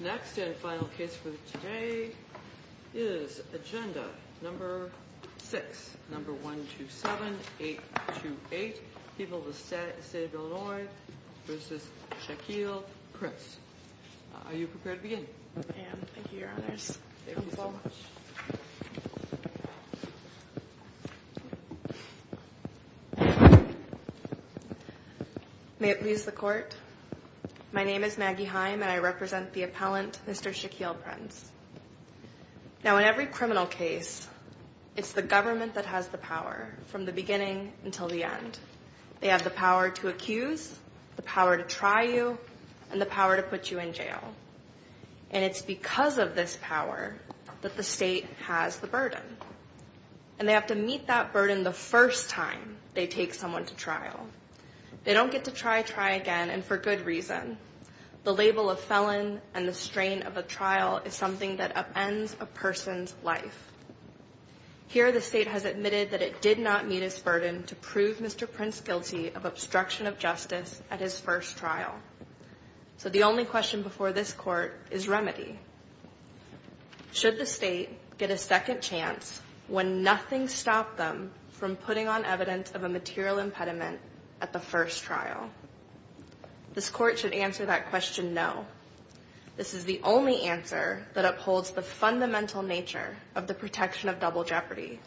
Next and final case for today is agenda number 6, number 127-828, People of the State of Illinois v. Shaquille Prince. Are you prepared to begin? I am. Thank you, Your Honors. Thank you so much. May it please the Court, my name is Maggie Heim and I represent the appellant, Mr. Shaquille Prince. Now in every criminal case, it's the government that has the power from the beginning until the end. They have the power to accuse, the power to try you, and the power to put you in jail. And it's because of this power that the state has the burden. And they have to meet that burden the first time they take someone to trial. They don't get to try, try again, and for good reason. The label of felon and the strain of a trial is something that upends a person's life. Here the state has admitted that it did not meet its burden to prove Mr. Prince guilty of obstruction of justice at his first trial. So the only question before this Court is remedy. Should the state get a second chance when nothing stopped them from putting on evidence of a material impediment at the first trial? This Court should answer that question, no. This is the only answer that upholds the fundamental nature of the protection of double jeopardy.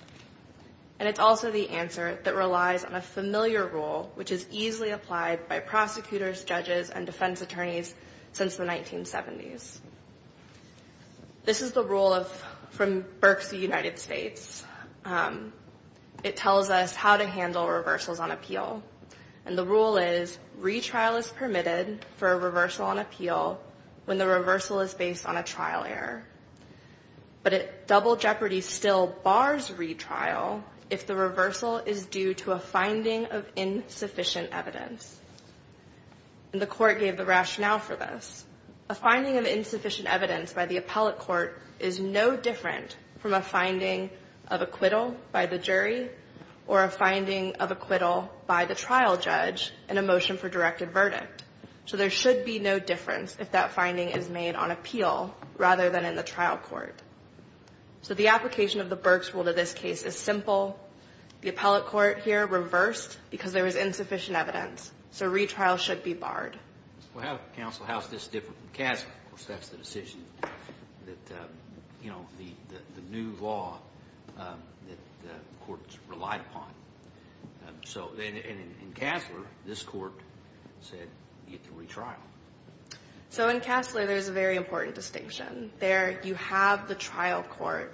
And it's also the answer that relies on a familiar rule, which is easily applied by prosecutors, judges, and defense attorneys since the 1970s. This is the rule from Berks of the United States. It tells us how to handle reversals on appeal. And the rule is retrial is permitted for a reversal on appeal when the reversal is based on a trial error. But double jeopardy still bars retrial if the reversal is due to a finding of insufficient evidence. And the Court gave the rationale for this. A finding of insufficient evidence by the appellate court is no different from a finding of acquittal by the jury or a finding of acquittal by the trial judge in a motion for directed verdict. So there should be no difference if that finding is made on appeal rather than in the trial court. So the application of the Berks rule to this case is simple. The appellate court here reversed because there was insufficient evidence. So retrial should be barred. Well, Counsel, how is this different from Kasler? Of course, that's the decision that, you know, the new law that the courts relied upon. So in Kasler, this court said you have to retrial. So in Kasler, there's a very important distinction. There you have the trial court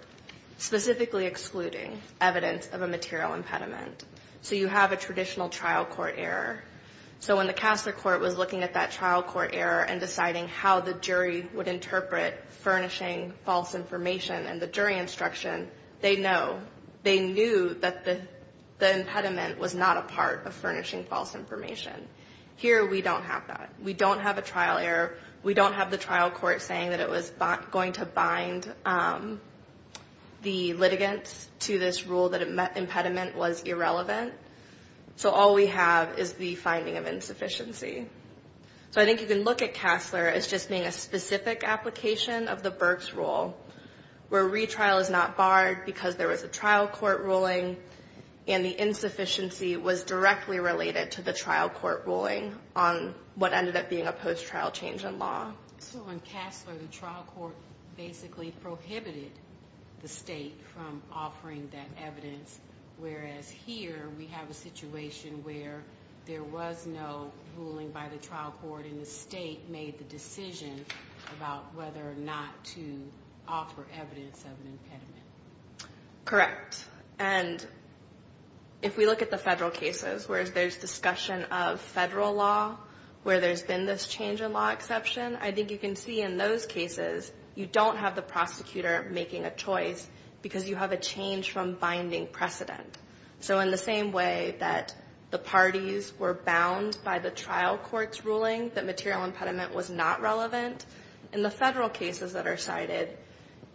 specifically excluding evidence of a material impediment. So you have a traditional trial court error. So when the Kasler court was looking at that trial court error and deciding how the jury would interpret furnishing false information and the jury instruction, they know. They knew that the impediment was not a part of furnishing false information. Here, we don't have that. We don't have a trial error. We don't have the trial court saying that it was going to bind the litigants to this rule that impediment was irrelevant. So all we have is the finding of insufficiency. So I think you can look at Kasler as just being a specific application of the Berks rule where retrial is not barred because there was a trial court ruling and the insufficiency was directly related to the trial court ruling on what ended up being a post-trial change in law. So in Kasler, the trial court basically prohibited the state from offering that evidence. Whereas here, we have a situation where there was no ruling by the trial court and the state made the decision about whether or not to offer evidence of an impediment. Correct. And if we look at the federal cases where there's discussion of federal law where there's been this change in law exception, I think you can see in those cases, you don't have the prosecutor making a choice because you have a change from binding precedent. So in the same way that the parties were bound by the trial court's ruling that material impediment was not relevant, in the federal cases that are cited,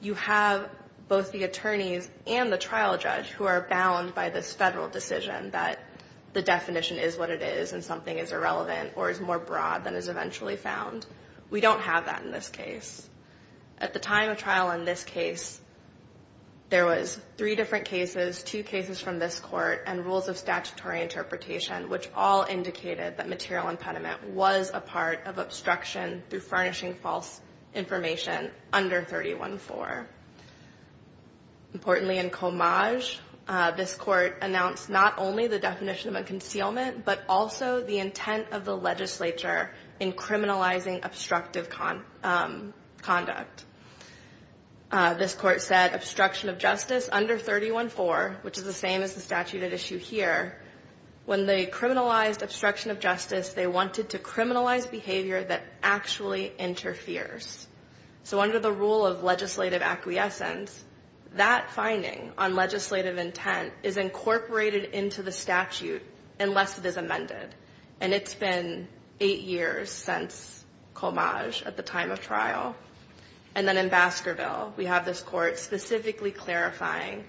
you have both the attorneys and the trial judge who are bound by this federal decision that the definition is what it is and something is irrelevant or is more broad than is eventually found. We don't have that in this case. At the time of trial in this case, there was three different cases, two cases from this court and rules of statutory interpretation, which all indicated that material impediment was a part of obstruction through furnishing false information under 314. Importantly, in Comage, this court announced not only the definition of a concealment but also the intent of the legislature in criminalizing obstructive conduct. This court said obstruction of justice under 314, which is the same as the statute at issue here, when they criminalized obstruction of justice, they wanted to criminalize behavior that actually interferes. So under the rule of legislative acquiescence, that finding on legislative intent is incorporated into the statute unless it is amended. And it's been eight years since Comage at the time of trial. And then in Baskerville, we have this court specifically clarifying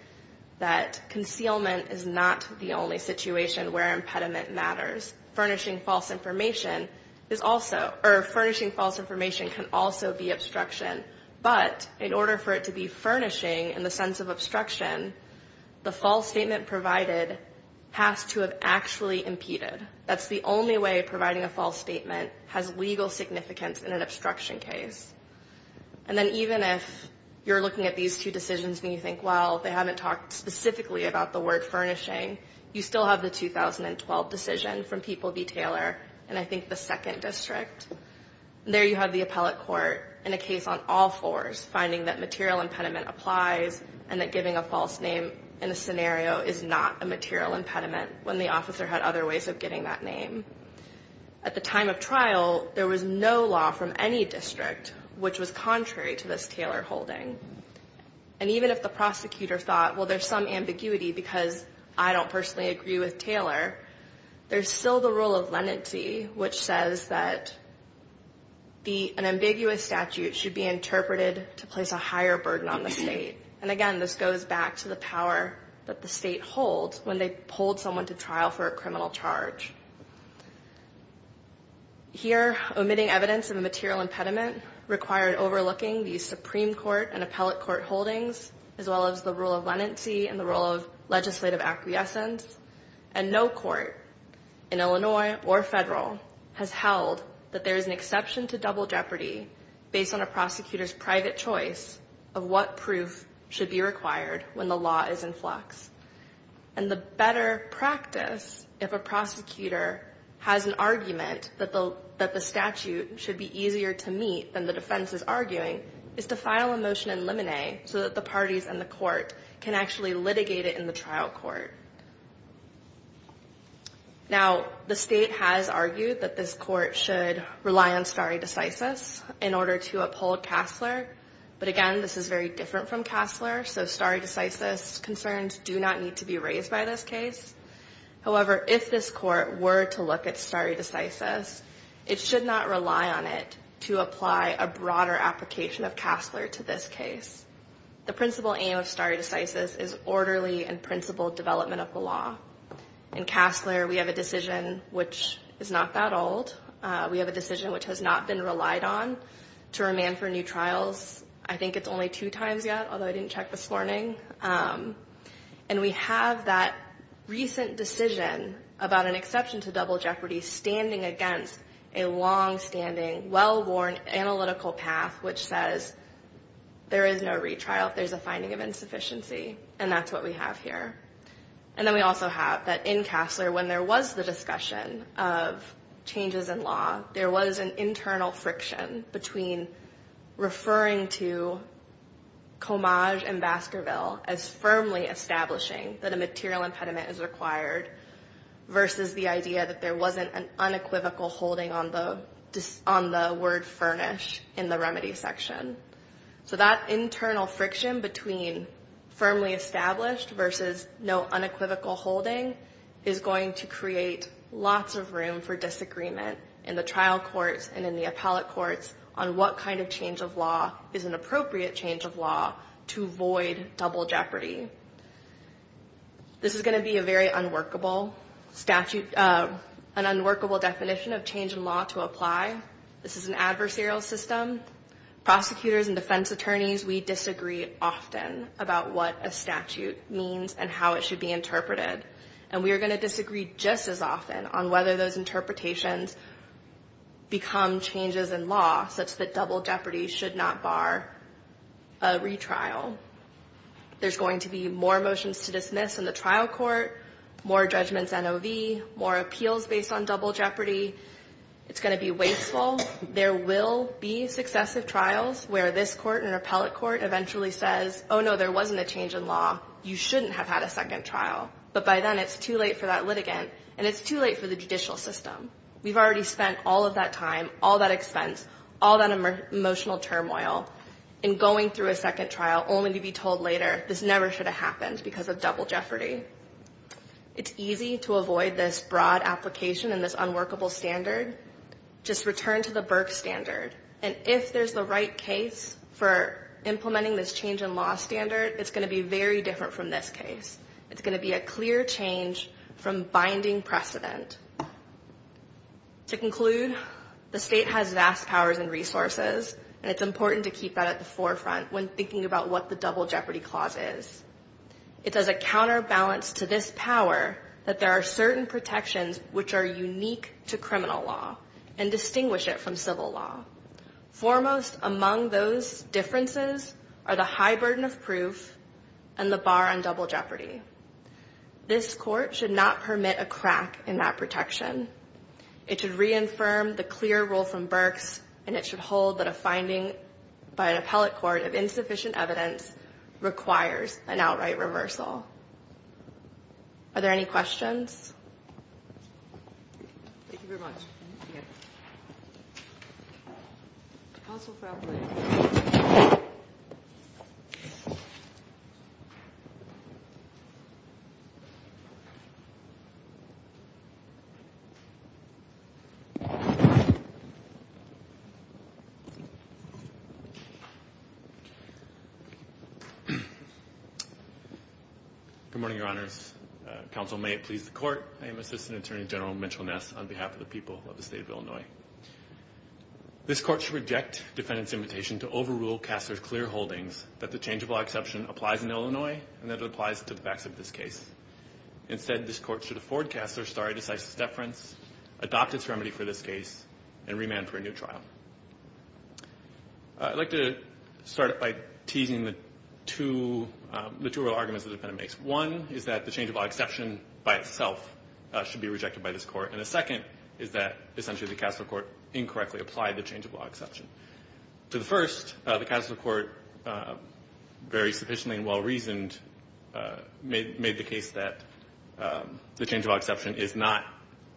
that concealment is not the only situation where impediment matters. Furnishing false information can also be obstruction, but in order for it to be furnishing in the sense of obstruction, the false statement provided has to have actually impeded. That's the only way providing a false statement has legal significance in an obstruction case. And then even if you're looking at these two decisions and you think, well, they haven't talked specifically about the word furnishing, you still have the 2012 decision from People v. Taylor, and I think the second district. There you have the appellate court in a case on all fours finding that material impediment applies and that giving a false name in a scenario is not a material impediment when the officer had other ways of giving that name. At the time of trial, there was no law from any district which was contrary to this Taylor holding. And even if the prosecutor thought, well, there's some ambiguity because I don't personally agree with Taylor, there's still the rule of leniency which says that an ambiguous statute should be interpreted to place a higher burden on the state. And again, this goes back to the power that the state holds when they hold someone to trial for a criminal charge. Here, omitting evidence of a material impediment required overlooking the Supreme Court and appellate court holdings as well as the rule of leniency and the rule of legislative acquiescence. And no court in Illinois or federal has held that there is an exception to double jeopardy based on a prosecutor's private choice of what proof should be required when the law is in flux. And the better practice, if a prosecutor has an argument that the statute should be easier to meet than the defense is arguing, is to file a motion in limine so that the parties and the court can actually litigate it in the trial court. Now, the state has argued that this court should rely on stare decisis in order to uphold Casler. But again, this is very different from Casler. So stare decisis concerns do not need to be raised by this case. However, if this court were to look at stare decisis, it should not rely on it to apply a broader application of Casler to this case. The principal aim of stare decisis is orderly and principled development of the law. In Casler, we have a decision which is not that old. We have a decision which has not been relied on to remand for new trials. I think it's only two times yet, although I didn't check this morning. And we have that recent decision about an exception to double jeopardy standing against a longstanding, well-worn analytical path which says there is no retrial. There's a finding of insufficiency. And that's what we have here. And then we also have that in Casler, when there was the discussion of changes in law, there was an internal friction between referring to Comage and Baskerville as firmly establishing that a material impediment is required versus the idea that there wasn't an unequivocal holding on the word furnish in the remedy section. So that internal friction between firmly established versus no unequivocal holding is going to create lots of room for disagreement in the trial courts and in the appellate courts on what kind of change of law is an appropriate change of law to avoid double jeopardy. This is going to be a very unworkable statute, an unworkable definition of change in law to apply. This is an adversarial system. Prosecutors and defense attorneys, we disagree often about what a statute means and how it should be interpreted. And we are going to disagree just as often on whether those interpretations become changes in law such that double jeopardy should not bar a retrial. There's going to be more motions to dismiss in the trial court, more judgments NOV, more appeals based on double jeopardy. It's going to be wasteful. There will be successive trials where this court and an appellate court eventually says, oh, no, there wasn't a change in law. You shouldn't have had a second trial. But by then it's too late for that litigant and it's too late for the judicial system. We've already spent all of that time, all that expense, all that emotional turmoil in going through a second trial only to be told later, this never should have happened because of double jeopardy. It's easy to avoid this broad application and this unworkable standard. Just return to the Burke standard. And if there's the right case for implementing this change in law standard, it's going to be very different from this case. It's going to be a clear change from binding precedent. To conclude, the state has vast powers and resources. And it's important to keep that at the forefront when thinking about what the double jeopardy clause is. It does a counterbalance to this power that there are certain protections which are unique to criminal law and distinguish it from civil law. Foremost among those differences are the high burden of proof and the bar on double jeopardy. This court should not permit a crack in that protection. It should reaffirm the clear rule from Burks and it should hold that a finding by an appellate court of insufficient evidence requires an outright reversal. Are there any questions? Thank you very much. Thank you. Counsel for appellate. Good morning, Your Honors. I am Assistant Attorney General Mitchell Ness on behalf of the people of the state of Illinois. This court should reject defendant's invitation to overrule Castler's clear holdings that the change of law exception applies in Illinois and that it applies to the facts of this case. Instead, this court should afford Castler stare decisis deference, adopt its remedy for this case, and remand for a new trial. I'd like to start by teasing the two real arguments the defendant makes. One is that the change of law exception by itself should be rejected by this court. And the second is that essentially the Castler court incorrectly applied the change of law exception. To the first, the Castler court, very sufficiently and well-reasoned, made the case that the change of law exception is not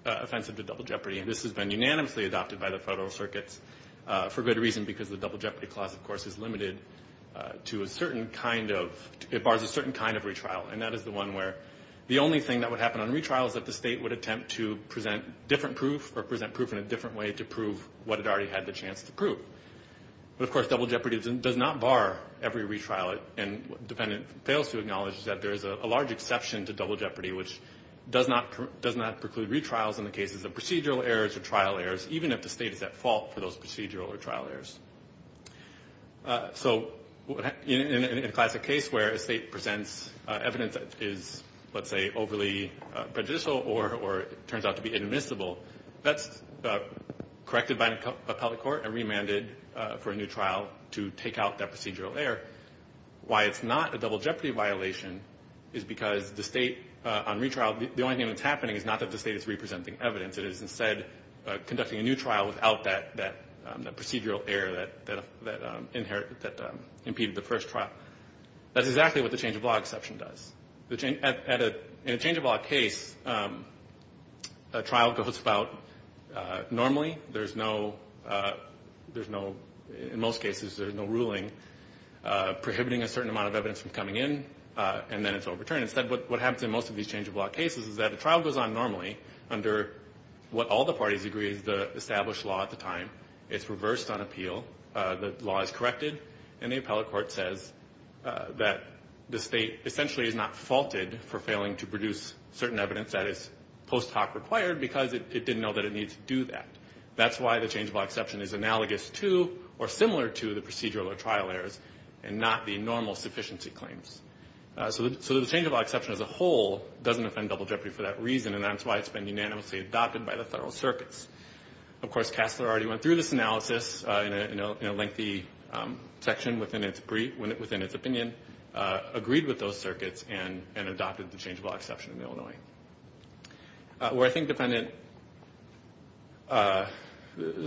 offensive to double jeopardy. And this has been unanimously adopted by the federal circuits for good reason because the double jeopardy clause, of course, is limited to a certain kind of retrial. And that is the one where the only thing that would happen on retrial is that the state would attempt to present different proof or present proof in a different way to prove what it already had the chance to prove. But, of course, double jeopardy does not bar every retrial. And what the defendant fails to acknowledge is that there is a large exception to double jeopardy, which does not preclude retrials in the cases of procedural errors or trial errors, even if the state is at fault for those procedural or trial errors. So in a classic case where a state presents evidence that is, let's say, overly prejudicial or turns out to be inadmissible, that's corrected by an appellate court and remanded for a new trial to take out that procedural error. Why it's not a double jeopardy violation is because the state on retrial, the only thing that's happening is not that the state is representing evidence. It is, instead, conducting a new trial without that procedural error that impeded the first trial. That's exactly what the change-of-law exception does. In a change-of-law case, a trial goes about normally. There's no, in most cases, there's no ruling prohibiting a certain amount of evidence from coming in, and then it's overturned. Instead, what happens in most of these change-of-law cases is that a trial goes on normally under what all the parties agree is the established law at the time. It's reversed on appeal. The law is corrected, and the appellate court says that the state essentially is not faulted for failing to produce certain evidence that is post hoc required because it didn't know that it needed to do that. That's why the change-of-law exception is analogous to or similar to the procedural or trial errors and not the normal sufficiency claims. So the change-of-law exception as a whole doesn't offend double jeopardy for that reason, and that's why it's been unanimously adopted by the federal circuits. Of course, Cassler already went through this analysis in a lengthy section within its opinion, agreed with those circuits, and adopted the change-of-law exception in Illinois. Where I think the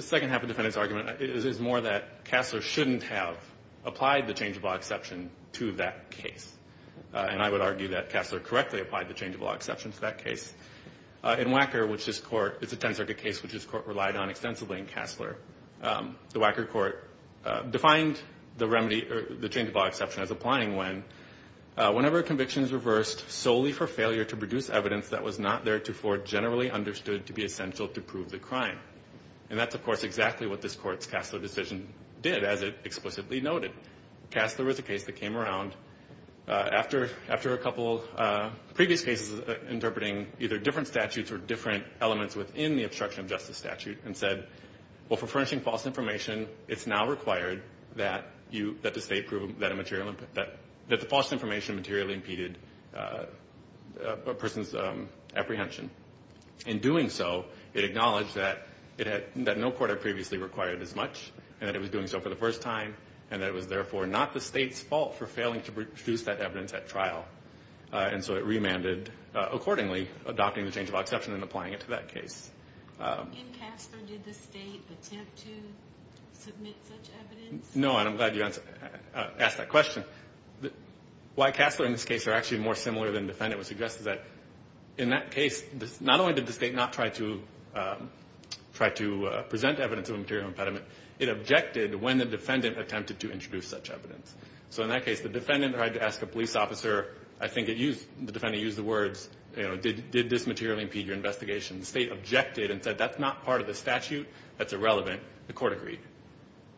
second half of the defendant's argument is more that Cassler shouldn't have applied the change-of-law exception to that case. And I would argue that Cassler correctly applied the change-of-law exception to that case. In Wacker, which this court, it's a 10-circuit case which this court relied on extensively in Cassler, the Wacker court defined the change-of-law exception as applying when whenever a conviction is reversed solely for failure to produce evidence that was not theretofore generally understood to be essential to prove the crime. And that's, of course, exactly what this court's Cassler decision did, as it explicitly noted. Cassler was a case that came around after a couple previous cases interpreting either different statutes or different elements within the obstruction of justice statute and said, well, for furnishing false information, it's now required that the state prove that the false information materially impeded a person's apprehension. In doing so, it acknowledged that no court had previously required as much, and that it was doing so for the first time, and that it was therefore not the state's fault for failing to produce that evidence at trial. And so it remanded accordingly, adopting the change-of-law exception and applying it to that case. In Cassler, did the state attempt to submit such evidence? No, and I'm glad you asked that question. Why Cassler and this case are actually more similar than defendant would suggest is that in that case, not only did the state not try to present evidence of a material impediment, it objected when the defendant attempted to introduce such evidence. So in that case, the defendant tried to ask a police officer, I think the defendant used the words, did this materially impede your investigation? The state objected and said, that's not part of the statute. That's irrelevant. The court agreed.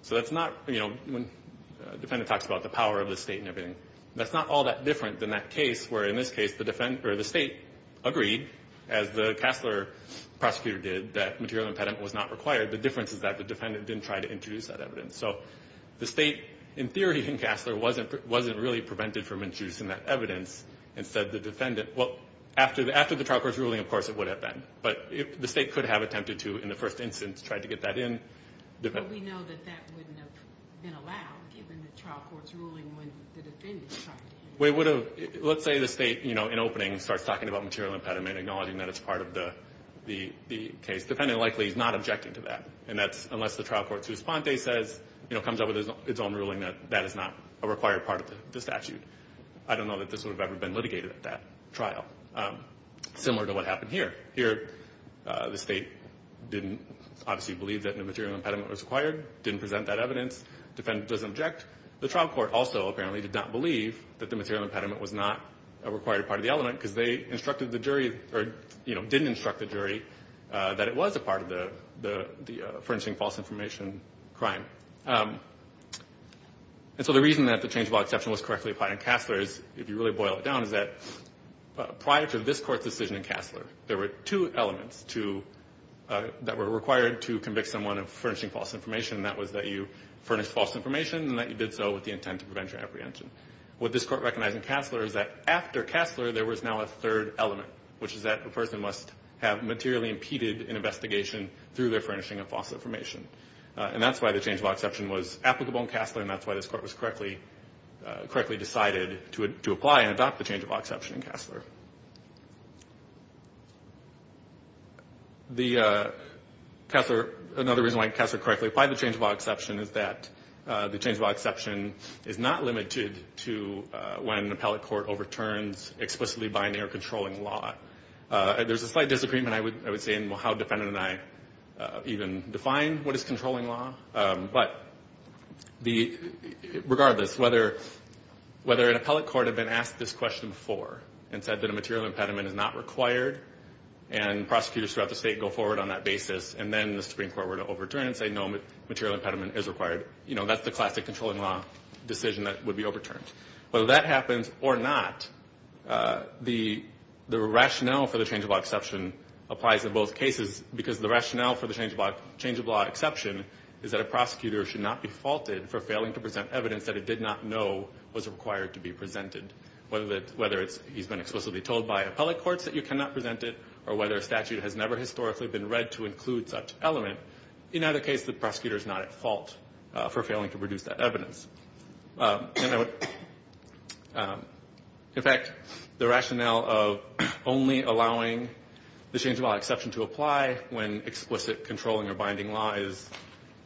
So that's not, you know, when a defendant talks about the power of the state and everything, that's not all that different than that case where, in this case, the state agreed, as the Cassler prosecutor did, that material impediment was not required. The difference is that the defendant didn't try to introduce that evidence. So the state, in theory, in Cassler, wasn't really prevented from introducing that evidence. Instead, the defendant, well, after the trial court's ruling, of course, it would have been. But the state could have attempted to, in the first instance, try to get that in. But we know that that wouldn't have been allowed, given the trial court's ruling when the defendant tried to. Well, it would have. Let's say the state, you know, in opening starts talking about material impediment, acknowledging that it's part of the case. The defendant likely is not objecting to that. And that's unless the trial court's response says, you know, comes up with its own ruling that that is not a required part of the statute. I don't know that this would have ever been litigated at that trial. Similar to what happened here. Here, the state didn't obviously believe that a material impediment was required, didn't present that evidence. Defendant doesn't object. The trial court also, apparently, did not believe that the material impediment was not a required part of the element because they instructed the jury or, you know, didn't instruct the jury that it was a part of the furnishing false information crime. And so the reason that the change of law exception was correctly applied in Cassler is, if you really boil it down, is that prior to this court's decision in Cassler, there were two elements that were required to convict someone of furnishing false information, and that was that you furnished false information and that you did so with the intent to prevent your apprehension. What this court recognized in Cassler is that after Cassler, there was now a third element, which is that a person must have materially impeded an investigation through their furnishing of false information. And that's why the change of law exception was applicable in Cassler, and that's why this court was correctly decided to apply and adopt the change of law exception in Cassler. Another reason why Cassler correctly applied the change of law exception is that the change of law exception is not limited to when an appellate court overturns explicitly binding or controlling law. There's a slight disagreement, I would say, in how defendant and I even define what is controlling law, but regardless, whether an appellate court had been asked this question before and said that a material impediment is not required and prosecutors throughout the state go forward on that basis and then the Supreme Court were to overturn it and say, no, material impediment is required, you know, that's the classic controlling law decision that would be overturned. Whether that happens or not, the rationale for the change of law exception applies in both cases because the rationale for the change of law exception is that a prosecutor should not be faulted for failing to present evidence that it did not know was required to be presented, whether he's been explicitly told by appellate courts that you cannot present it or whether a statute has never historically been read to include such element. In either case, the prosecutor is not at fault for failing to produce that evidence. In fact, the rationale of only allowing the change of law exception to apply when explicit controlling or binding law is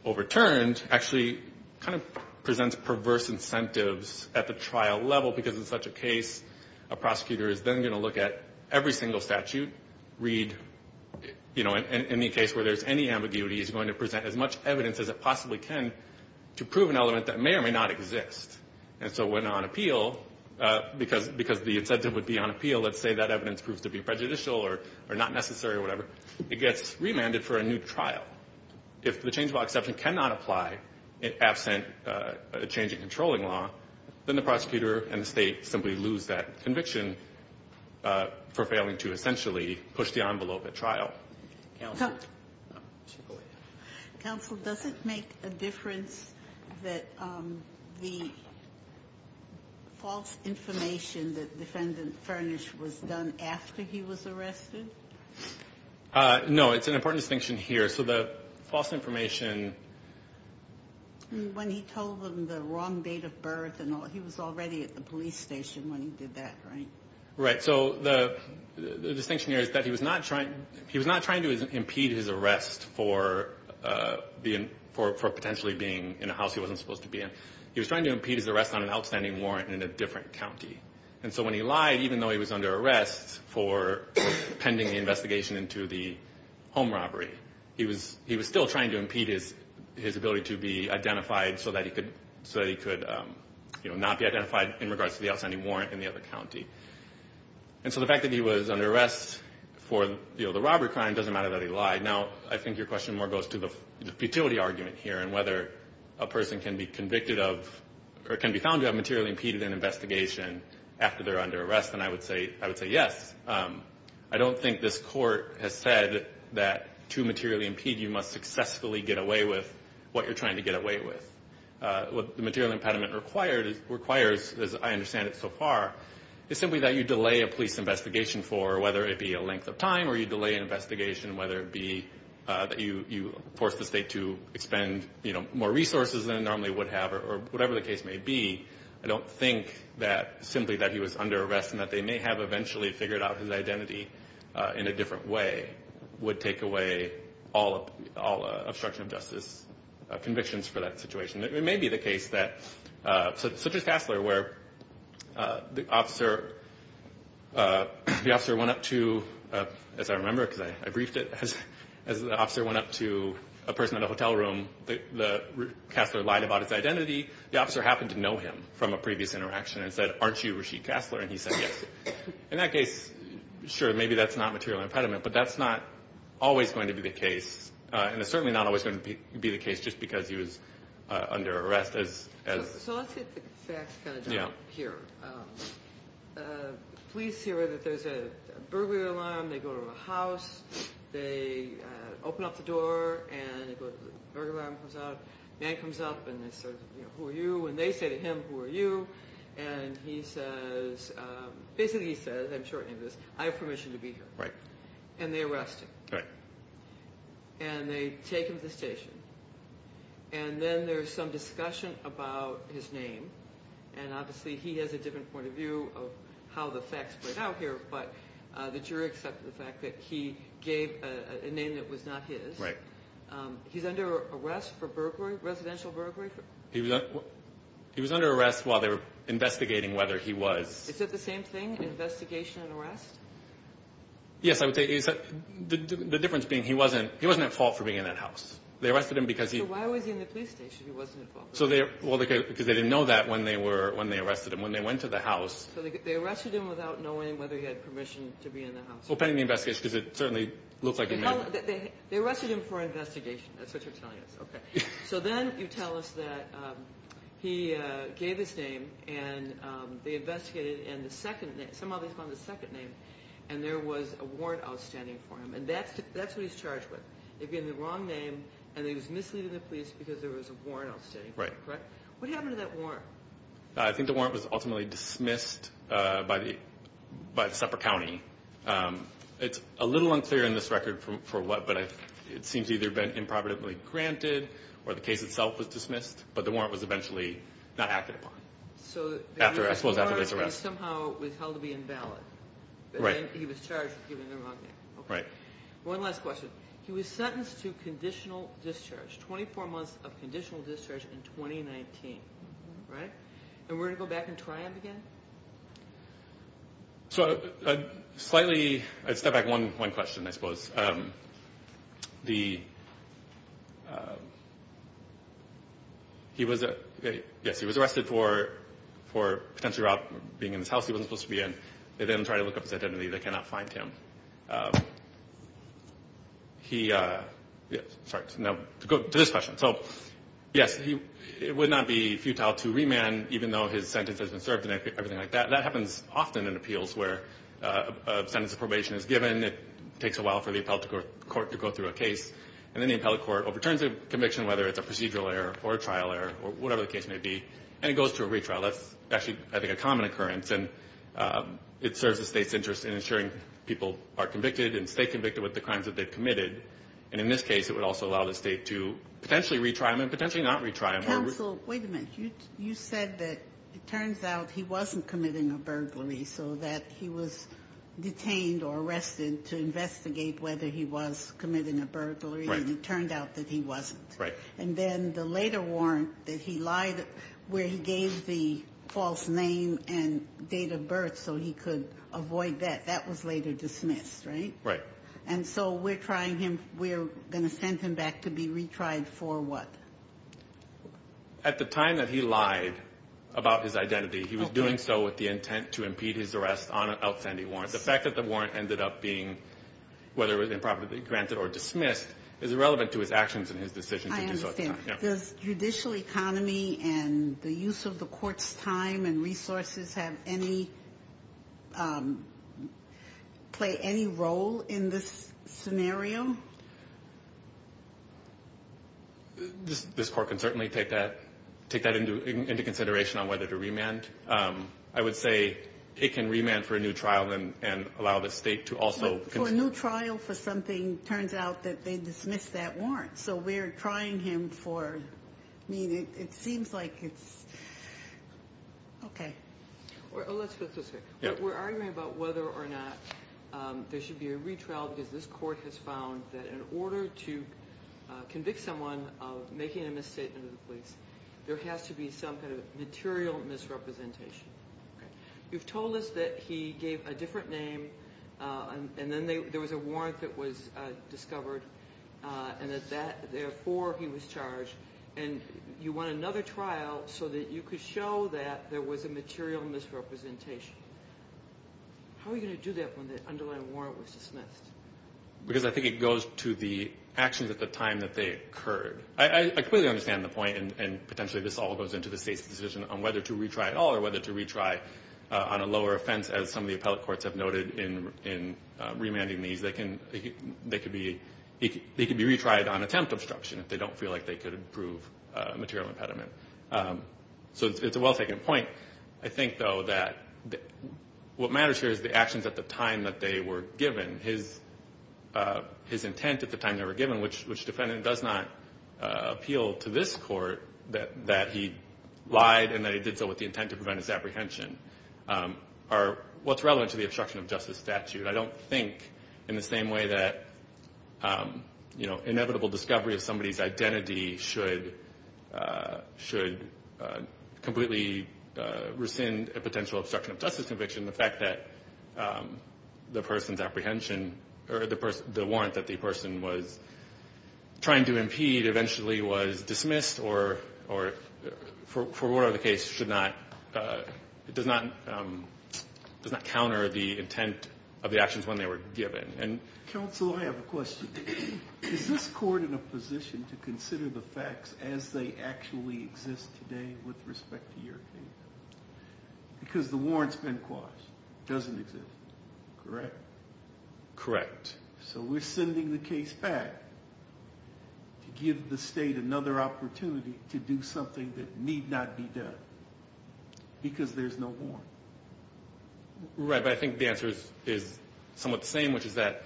overturned actually kind of presents perverse incentives at the trial level because in such a case, a prosecutor is then going to look at every single statute, read, you know, in the case where there's any ambiguity, is going to present as much evidence as it possibly can to prove an element that may or may not exist. And so when on appeal, because the incentive would be on appeal, let's say that evidence proves to be prejudicial or not necessary or whatever, it gets remanded for a new trial. If the change of law exception cannot apply absent a change in controlling law, then the prosecutor and the State simply lose that conviction for failing to essentially push the envelope at trial. Counsel, does it make a difference that the false information that Defendant Furnish was done after he was arrested? No. It's an important distinction here. So the false information... When he told them the wrong date of birth and he was already at the police station when he did that, right? Right. So the distinction here is that he was not trying to impede his arrest for potentially being in a house he wasn't supposed to be in. He was trying to impede his arrest on an outstanding warrant in a different county. And so when he lied, even though he was under arrest for pending the investigation into the home robbery, he was still trying to impede his ability to be identified so that he could not be identified in regards to the outstanding warrant in the other county. And so the fact that he was under arrest for the robbery crime doesn't matter that he lied. Now, I think your question more goes to the futility argument here and whether a person can be convicted of, or can be found to have materially impeded an investigation after they're under arrest. And I would say yes. I don't think this Court has said that to materially impede, you must successfully get away with what you're trying to get away with. What the material impediment requires, as I understand it so far, is simply that you delay a police investigation for, whether it be a length of time or you delay an investigation, whether it be that you force the state to expend more resources than it normally would have or whatever the case may be. I don't think that simply that he was under arrest and that they may have eventually figured out his identity in a different way would take away all obstruction of justice convictions for that situation. It may be the case that, such as Kassler, where the officer went up to, as I remember, because I briefed it, as the officer went up to a person in a hotel room, Kassler lied about his identity, the officer happened to know him from a previous interaction and said, aren't you Rasheed Kassler? And he said yes. In that case, sure, maybe that's not material impediment, but that's not always going to be the case. And it's certainly not always going to be the case just because he was under arrest. So let's get the facts kind of down here. Police hear that there's a burglary alarm. They go to a house. They open up the door and the burglar alarm comes out. A man comes up and says, who are you? And they say to him, who are you? And he says, basically he says, I'm shortening this, I have permission to be here. And they arrest him. And they take him to the station. And then there's some discussion about his name. And obviously he has a different point of view of how the facts play out here. But the jury accepted the fact that he gave a name that was not his. He's under arrest for burglary, residential burglary. He was under arrest while they were investigating whether he was. Is that the same thing? Investigation and arrest? Yes, the difference being he wasn't at fault for being in that house. So why was he in the police station if he wasn't at fault? Because they didn't know that when they arrested him. When they went to the house. They arrested him without knowing whether he had permission to be in the house. They arrested him for investigation. That's what you're telling us. So then you tell us that he gave his name and they investigated. And somehow they found the second name. And there was a warrant outstanding for him. And that's what he's charged with. They gave him the wrong name and he was misleading the police because there was a warrant outstanding for him. What happened to that warrant? I think the warrant was ultimately dismissed by the separate county. It's a little unclear in this record for what, but it seems either been improperly granted or the case itself was dismissed, but the warrant was eventually not acted upon. I suppose after this arrest. So the warrant was somehow held to be invalid. He was charged with giving the wrong name. One last question. He was sentenced to 24 months of conditional discharge in 2019. And we're going to go back and try him again? So I'd step back one question, I suppose. Yes, he was arrested for potentially being in this house he wasn't supposed to be in. They didn't try to look up his identity. They cannot find him. Sorry, to go to this question. So, yes, it would not be futile to remand even though his sentence has been served and everything like that. That happens often in appeals where a sentence of probation is given. It takes a while for the appellate court to go through a case. And then the appellate court overturns a conviction, whether it's a procedural error or a trial error or whatever the case may be. And it goes to a retrial. That's actually, I think, a common occurrence. And it serves the state's interest in ensuring people are convicted and stay convicted with the crimes that they've committed. And in this case, it would also allow the state to potentially retry him and potentially not retry him. Counsel, wait a minute. You said that it turns out he wasn't committing a burglary so that he was detained or arrested to investigate whether he was committing a burglary. And it turned out that he wasn't. Right. And then the later warrant that he lied, where he gave the false name and date of birth so he could avoid that, that was later dismissed, right? Right. And so we're trying him, we're going to send him back to be retried for what? At the time that he lied about his identity, he was doing so with the intent to impede his arrest on an outstanding warrant. The fact that the warrant ended up being, whether it was improperly granted or dismissed, is irrelevant to his actions and his decision to do so at the time. I understand. Does judicial economy and the use of the court's time and resources have any, play any role in this scenario? This court can certainly take that into consideration on whether to remand. I would say it can remand for a new trial and allow the state to also... For a new trial for something, turns out that they dismissed that warrant. So we're trying him for, I mean, it seems like it's... Okay. We're arguing about whether or not there should be a retrial because this court has found that in order to convict someone of making a misstatement to the police, there has to be some kind of material misrepresentation. You've told us that he gave a different name and then there was a warrant that was discovered, and that therefore he was charged. And you want another trial so that you could show that there was a material misrepresentation. How are you going to do that when the underlying warrant was dismissed? Because I think it goes to the actions at the time that they occurred. I clearly understand the point, and potentially this all goes into the state's decision on whether to retry at all or whether to retry on a lower offense, as some of the appellate courts have noted in remanding these. They could be retried on attempt obstruction if they don't feel like they could prove material impediment. So it's a well-taken point. I think, though, that what matters here is the actions at the time that they were given. His intent at the time they were given, which defendant does not appeal to this court, that he lied and that he did so with the intent to prevent his apprehension, are what's relevant to the obstruction of justice statute. I don't think in the same way that inevitable discovery of somebody's identity should completely rescind a potential obstruction of justice conviction, the fact that the person's apprehension or the warrant that the person was trying to impede eventually was dismissed or, for whatever the case, does not counter the intent of the actions when they were given. Counsel, I have a question. Is this court in a position to consider the facts as they actually exist today with respect to your case? Because the warrants been quashed. It doesn't exist. Correct? Correct. So we're sending the case back to give the state another opportunity to do something that need not be done, because there's no warrant. Right, but I think the answer is somewhat the same, which is that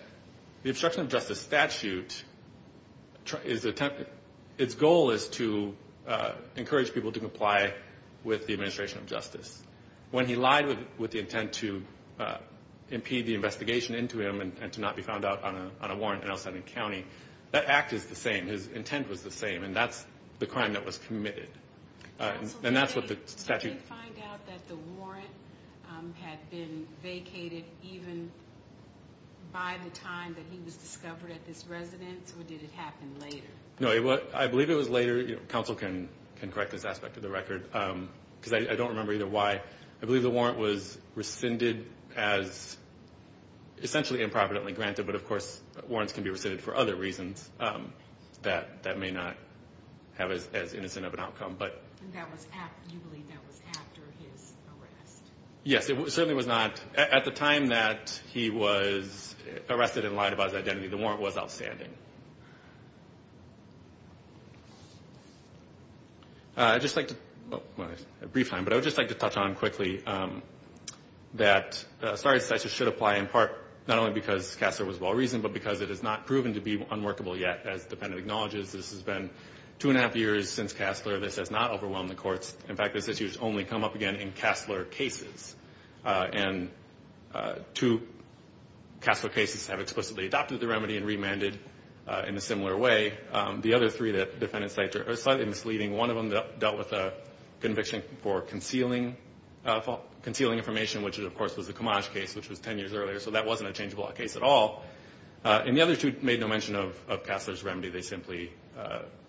the obstruction of justice statute, its goal is to encourage people to comply with the administration of justice. When he lied with the intent to impede the investigation into him and to not be found out on a warrant in El Salvador County, that act is the same. His intent was the same, and that's the crime that was committed. Counsel, did they find out that the warrant had been vacated even by the time that he was discovered at this residence, or did it happen later? No, I believe it was later. Counsel can correct this aspect of the record, because I don't remember either why. I believe the warrant was rescinded as essentially improperly granted, but of course warrants can be rescinded for other reasons that may not have as innocent of an outcome. And you believe that was after his arrest? Yes, it certainly was not. At the time that he was arrested and lied about his identity, the warrant was outstanding. I'd just like to, well, a brief time, but I would just like to touch on quickly that not only because Kasler was well-reasoned, but because it has not proven to be unworkable yet, as the defendant acknowledges. This has been two and a half years since Kasler. This has not overwhelmed the courts. In fact, this issue has only come up again in Kasler cases. Two Kasler cases have explicitly adopted the remedy and remanded in a similar way. The other three that the defendant cited are slightly misleading. One of them dealt with a conviction for concealing information, which of course was the Camage case, which was ten years earlier, so that wasn't a change of law case at all. And the other two made no mention of Kasler's remedy. They simply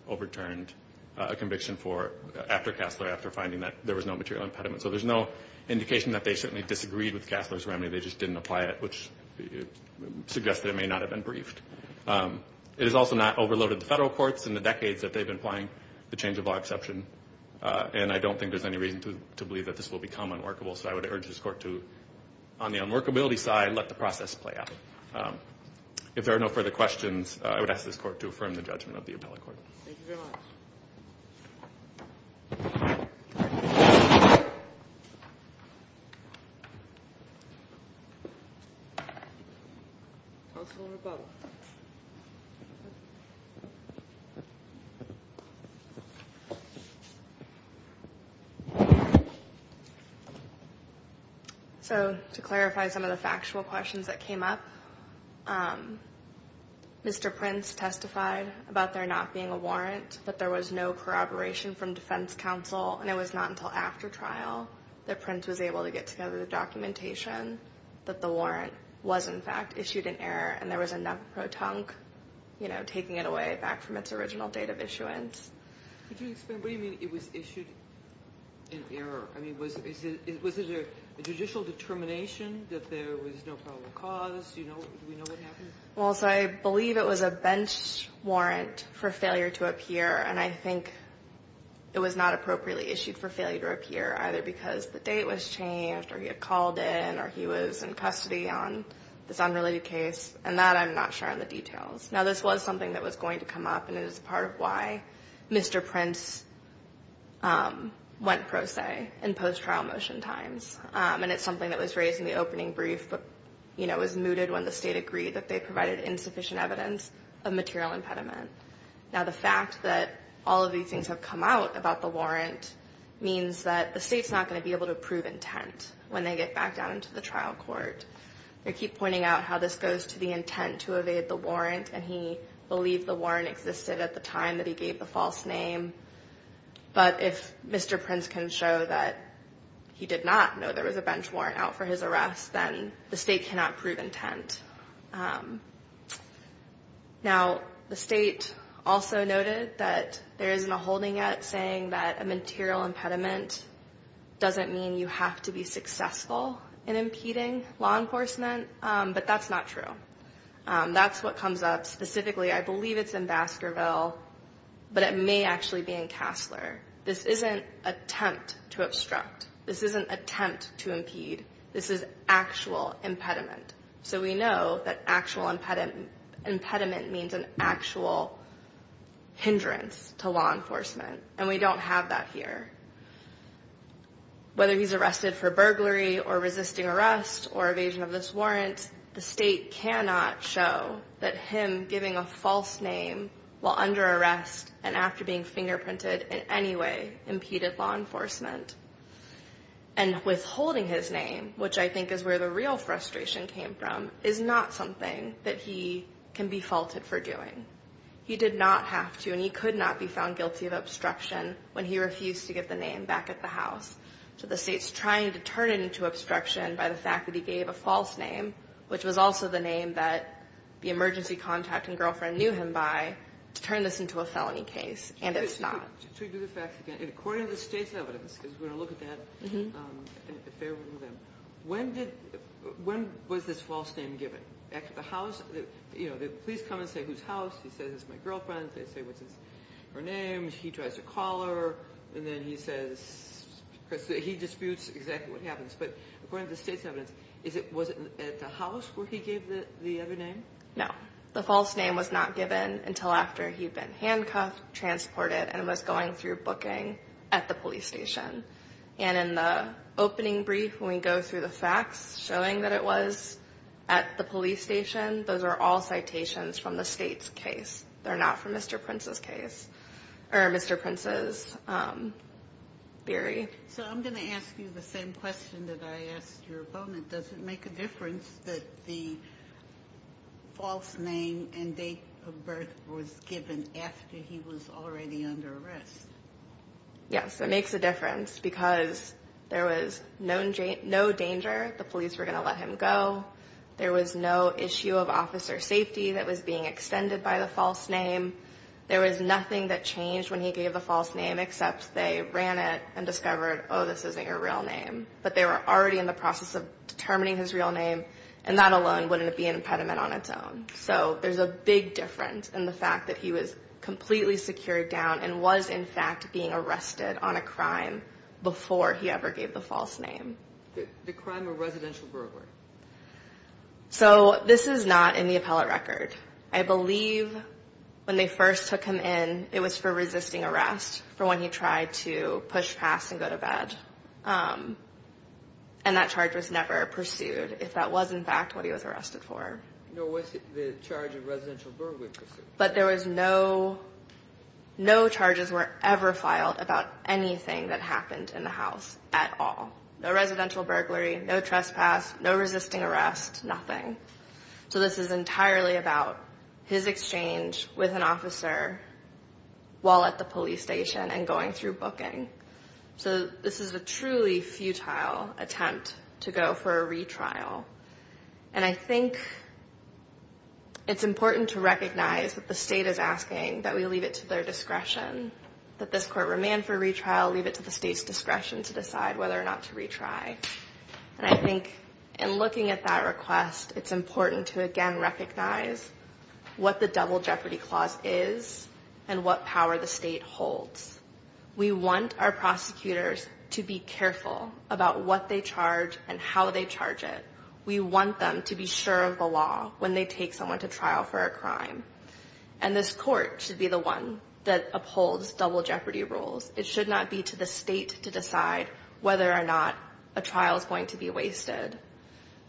overturned a conviction for, after Kasler, after finding that there was no material impediment. So there's no indication that they certainly disagreed with Kasler's remedy, they just didn't apply it, which suggests that it may not have been briefed. It has also not overloaded the federal courts in the decades that they've been applying the change of law exception, and I don't think there's any reason to believe that this will become unworkable. So I would urge this Court to, on the unworkability side, let the process play out. If there are no further questions, I would ask this Court to affirm the judgment of the appellate court. Counsel, rebuttal. So to clarify some of the factual questions that came up, Mr. Prince testified about there not being a warrant, that there was no corroboration from defense counsel, and it was not until after trial that Prince was able to get together the documentation that the warrant was, in fact, issued in error, and there was enough pro tonque, you know, taking it away back from its original date of issuance. What do you mean it was issued in error? I mean, was it a judicial determination that there was no probable cause? Do we know what happened? Well, so I believe it was a bench warrant for failure to appear, and I think it was not appropriately issued for failure to appear, either because the date was changed or he had called in or he was in custody on this unrelated case, and that I'm not sure of the details. Now, this was something that was going to come up, and it is part of why Mr. Prince went pro se in post-trial motion times, and it's something that was raised in the opening brief, but, you know, was mooted when the State agreed that they provided insufficient evidence of material impediment. Now, the fact that all of these things have come out about the warrant means that the State's not going to be able to prove intent when they get back down into the trial court. They keep pointing out how this goes to the intent to evade the warrant, and he believed the warrant existed at the time that he gave the false name, but if Mr. Prince can show that he did not know there was a bench warrant out for his arrest, then the State cannot prove intent. Now, the State also noted that there isn't a holding yet saying that a material impediment doesn't mean you have to be successful in impeding law enforcement, but that's not true. That's what comes up specifically. I believe it's in Baskerville, but it may actually be in Cassler. This isn't attempt to obstruct. This isn't attempt to impede. This is actual impediment, so we know that actual impediment means an actual hindrance to law enforcement, and we don't have that here. Whether he's arrested for burglary or resisting arrest or evasion of this warrant, the State cannot show that him giving a false name while under arrest and after being fingerprinted in any way impeded law enforcement, and withholding his name, which I think is where the real frustration came from, is not something that he can be faulted for doing. He did not have to, and he could not be found guilty of obstruction when he refused to give the name back at the house. So the State's trying to turn it into obstruction by the fact that he gave a false name, which was also the name that the emergency contact and girlfriend knew him by, to turn this into a felony case, and it's not. According to the State's evidence, because we're going to look at that, when was this false name given? The police come and say, whose house? He says, it's my girlfriend's. They say, what's her name? He tries to call her, and then he disputes exactly what happens. But according to the State's evidence, was it at the house where he gave the other name? No. The false name was not given until after he'd been handcuffed, transported, and was going through booking at the police station. And in the opening brief, when we go through the facts showing that it was at the police station, those are all citations from the State's case. They're not from Mr. Prince's case, or Mr. Prince's theory. So I'm going to ask you the same question that I asked your opponent. Does it make a difference that the false name and date of birth was given after he was already under arrest? Yes, it makes a difference, because there was no danger the police were going to let him go. There was no issue of officer safety that was being extended by the false name. There was nothing that changed when he gave the false name, except they ran it and discovered, oh, this isn't your real name. But they were already in the process of determining his real name, and that alone wouldn't be an impediment on its own. So there's a big difference in the fact that he was completely secured down and was, in fact, being arrested on a crime before he ever gave the false name. The crime of residential burglary. So this is not in the appellate record. I believe when they first took him in, it was for resisting arrest, for when he tried to push past and go to bed. And that charge was never pursued, if that was, in fact, what he was arrested for. No, what's the charge of residential burglary? But there was no, no charges were ever filed about anything that happened in the house at all. No residential burglary, no trespass, no resisting arrest, nothing. So this is entirely about his exchange with an officer while at the police station and going through booking. So this is a truly futile attempt to go for a retrial. And I think it's important to recognize that the state is asking that we leave it to their discretion, that this court remand for retrial, leave it to the state's discretion to decide whether or not to retry. And I think in looking at that request, it's important to, again, recognize what the Double Jeopardy Clause is and what power the state holds. We want our prosecutors to be careful about what they charge and how they charge it. We want them to be sure of the law when they take someone to trial for a crime. And this court should be the one that upholds Double Jeopardy rules. It should not be to the state to decide whether or not a trial is going to be wasted.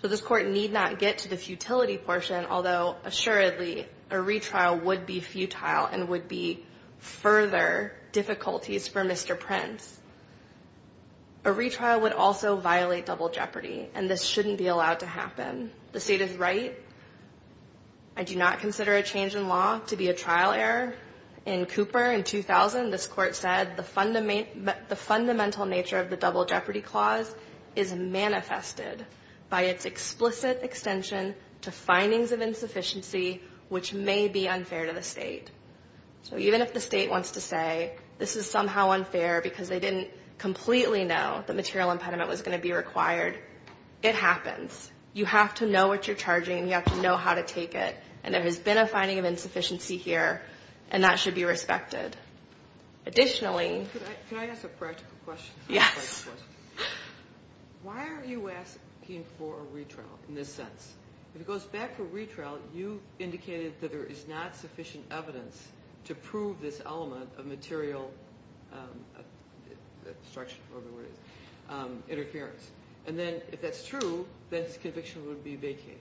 So this court need not get to the futility portion, although, assuredly, a retrial would be futile and would be further difficulties for Mr. Prince. A retrial would also violate Double Jeopardy, and this shouldn't be allowed to happen. The state is right. I do not consider a change in law to be a trial error. In Cooper, in 2000, this court said the fundamental nature of the Double Jeopardy Clause is manifested by its explicit extension to findings of insufficiency, which may be unfair to the state. So even if the state wants to say this is somehow unfair because they didn't completely know the material impediment was going to be required, it happens. You have to know what you're charging and you have to know how to take it. And there has been a finding of insufficiency here, and that should be respected. Additionally... Can I ask a practical question? Yes. Why are you asking for a retrial in this sense? If it goes back to retrial, you indicated that there is not sufficient evidence to prove this element of material interference. And then if that's true, this conviction would be vacated.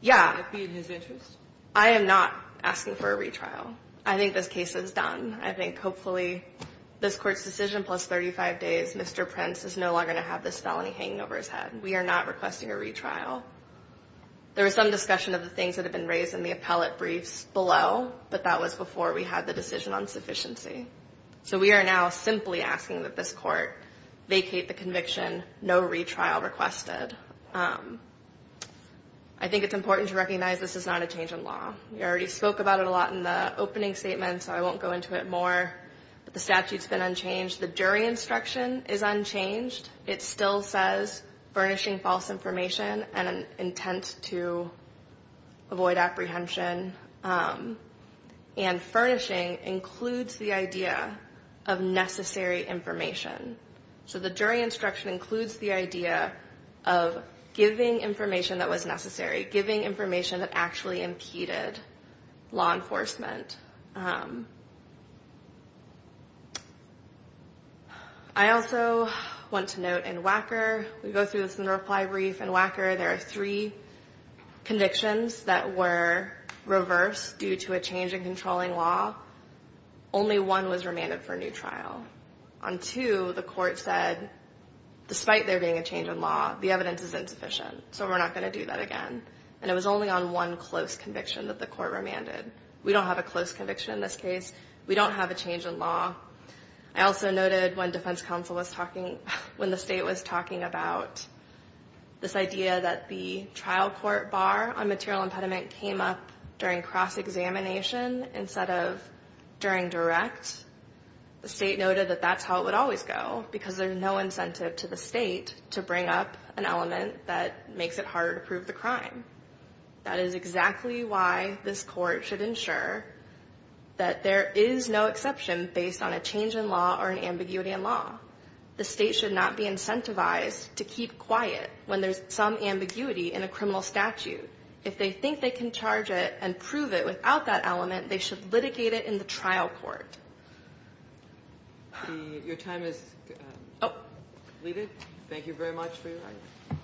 Yeah. Would that be in his interest? I am not asking for a retrial. I think this case is done. I think hopefully this Court's decision plus 35 days, Mr. Prince, is no longer going to have this felony hanging over his head. We are not requesting a retrial. There was some discussion of the things that have been raised in the appellate briefs below, but that was before we had the decision on sufficiency. So we are now simply asking that this Court vacate the conviction, no retrial requested. I think it's important to recognize this is not a change in law. We already spoke about it a lot in the opening statement, so I won't go into it more. The statute's been unchanged. The jury instruction is unchanged. It still says furnishing false information and an intent to avoid apprehension. And furnishing includes the idea of necessary information. So the jury instruction includes the idea of giving information that was necessary, giving information that actually impeded law enforcement. I also want to note in WACKER, we go through this reply brief. In WACKER, there are three convictions that were reversed due to a change in controlling law. Only one was remanded for a new trial. On two, the Court said, despite there being a change in law, the evidence is insufficient, so we're not going to do that again. And it was only on one close conviction that the Court remanded. We don't have a close conviction in this case. We don't have a change in law. I also noted when the State was talking about this idea that the trial court bar on material impediment came up during cross-examination instead of during direct, the State noted that that's how it would always go, because there's no incentive to the State to bring up an element that makes it harder to prove the crime. That is exactly why this Court should ensure that there is no exception based on a change in law or an ambiguity in law. The State should not be incentivized to keep quiet when there's some ambiguity in a criminal statute. If they think they can charge it and prove it without that element, they should litigate it in the trial court. Your time is completed. Thank you very much for your time.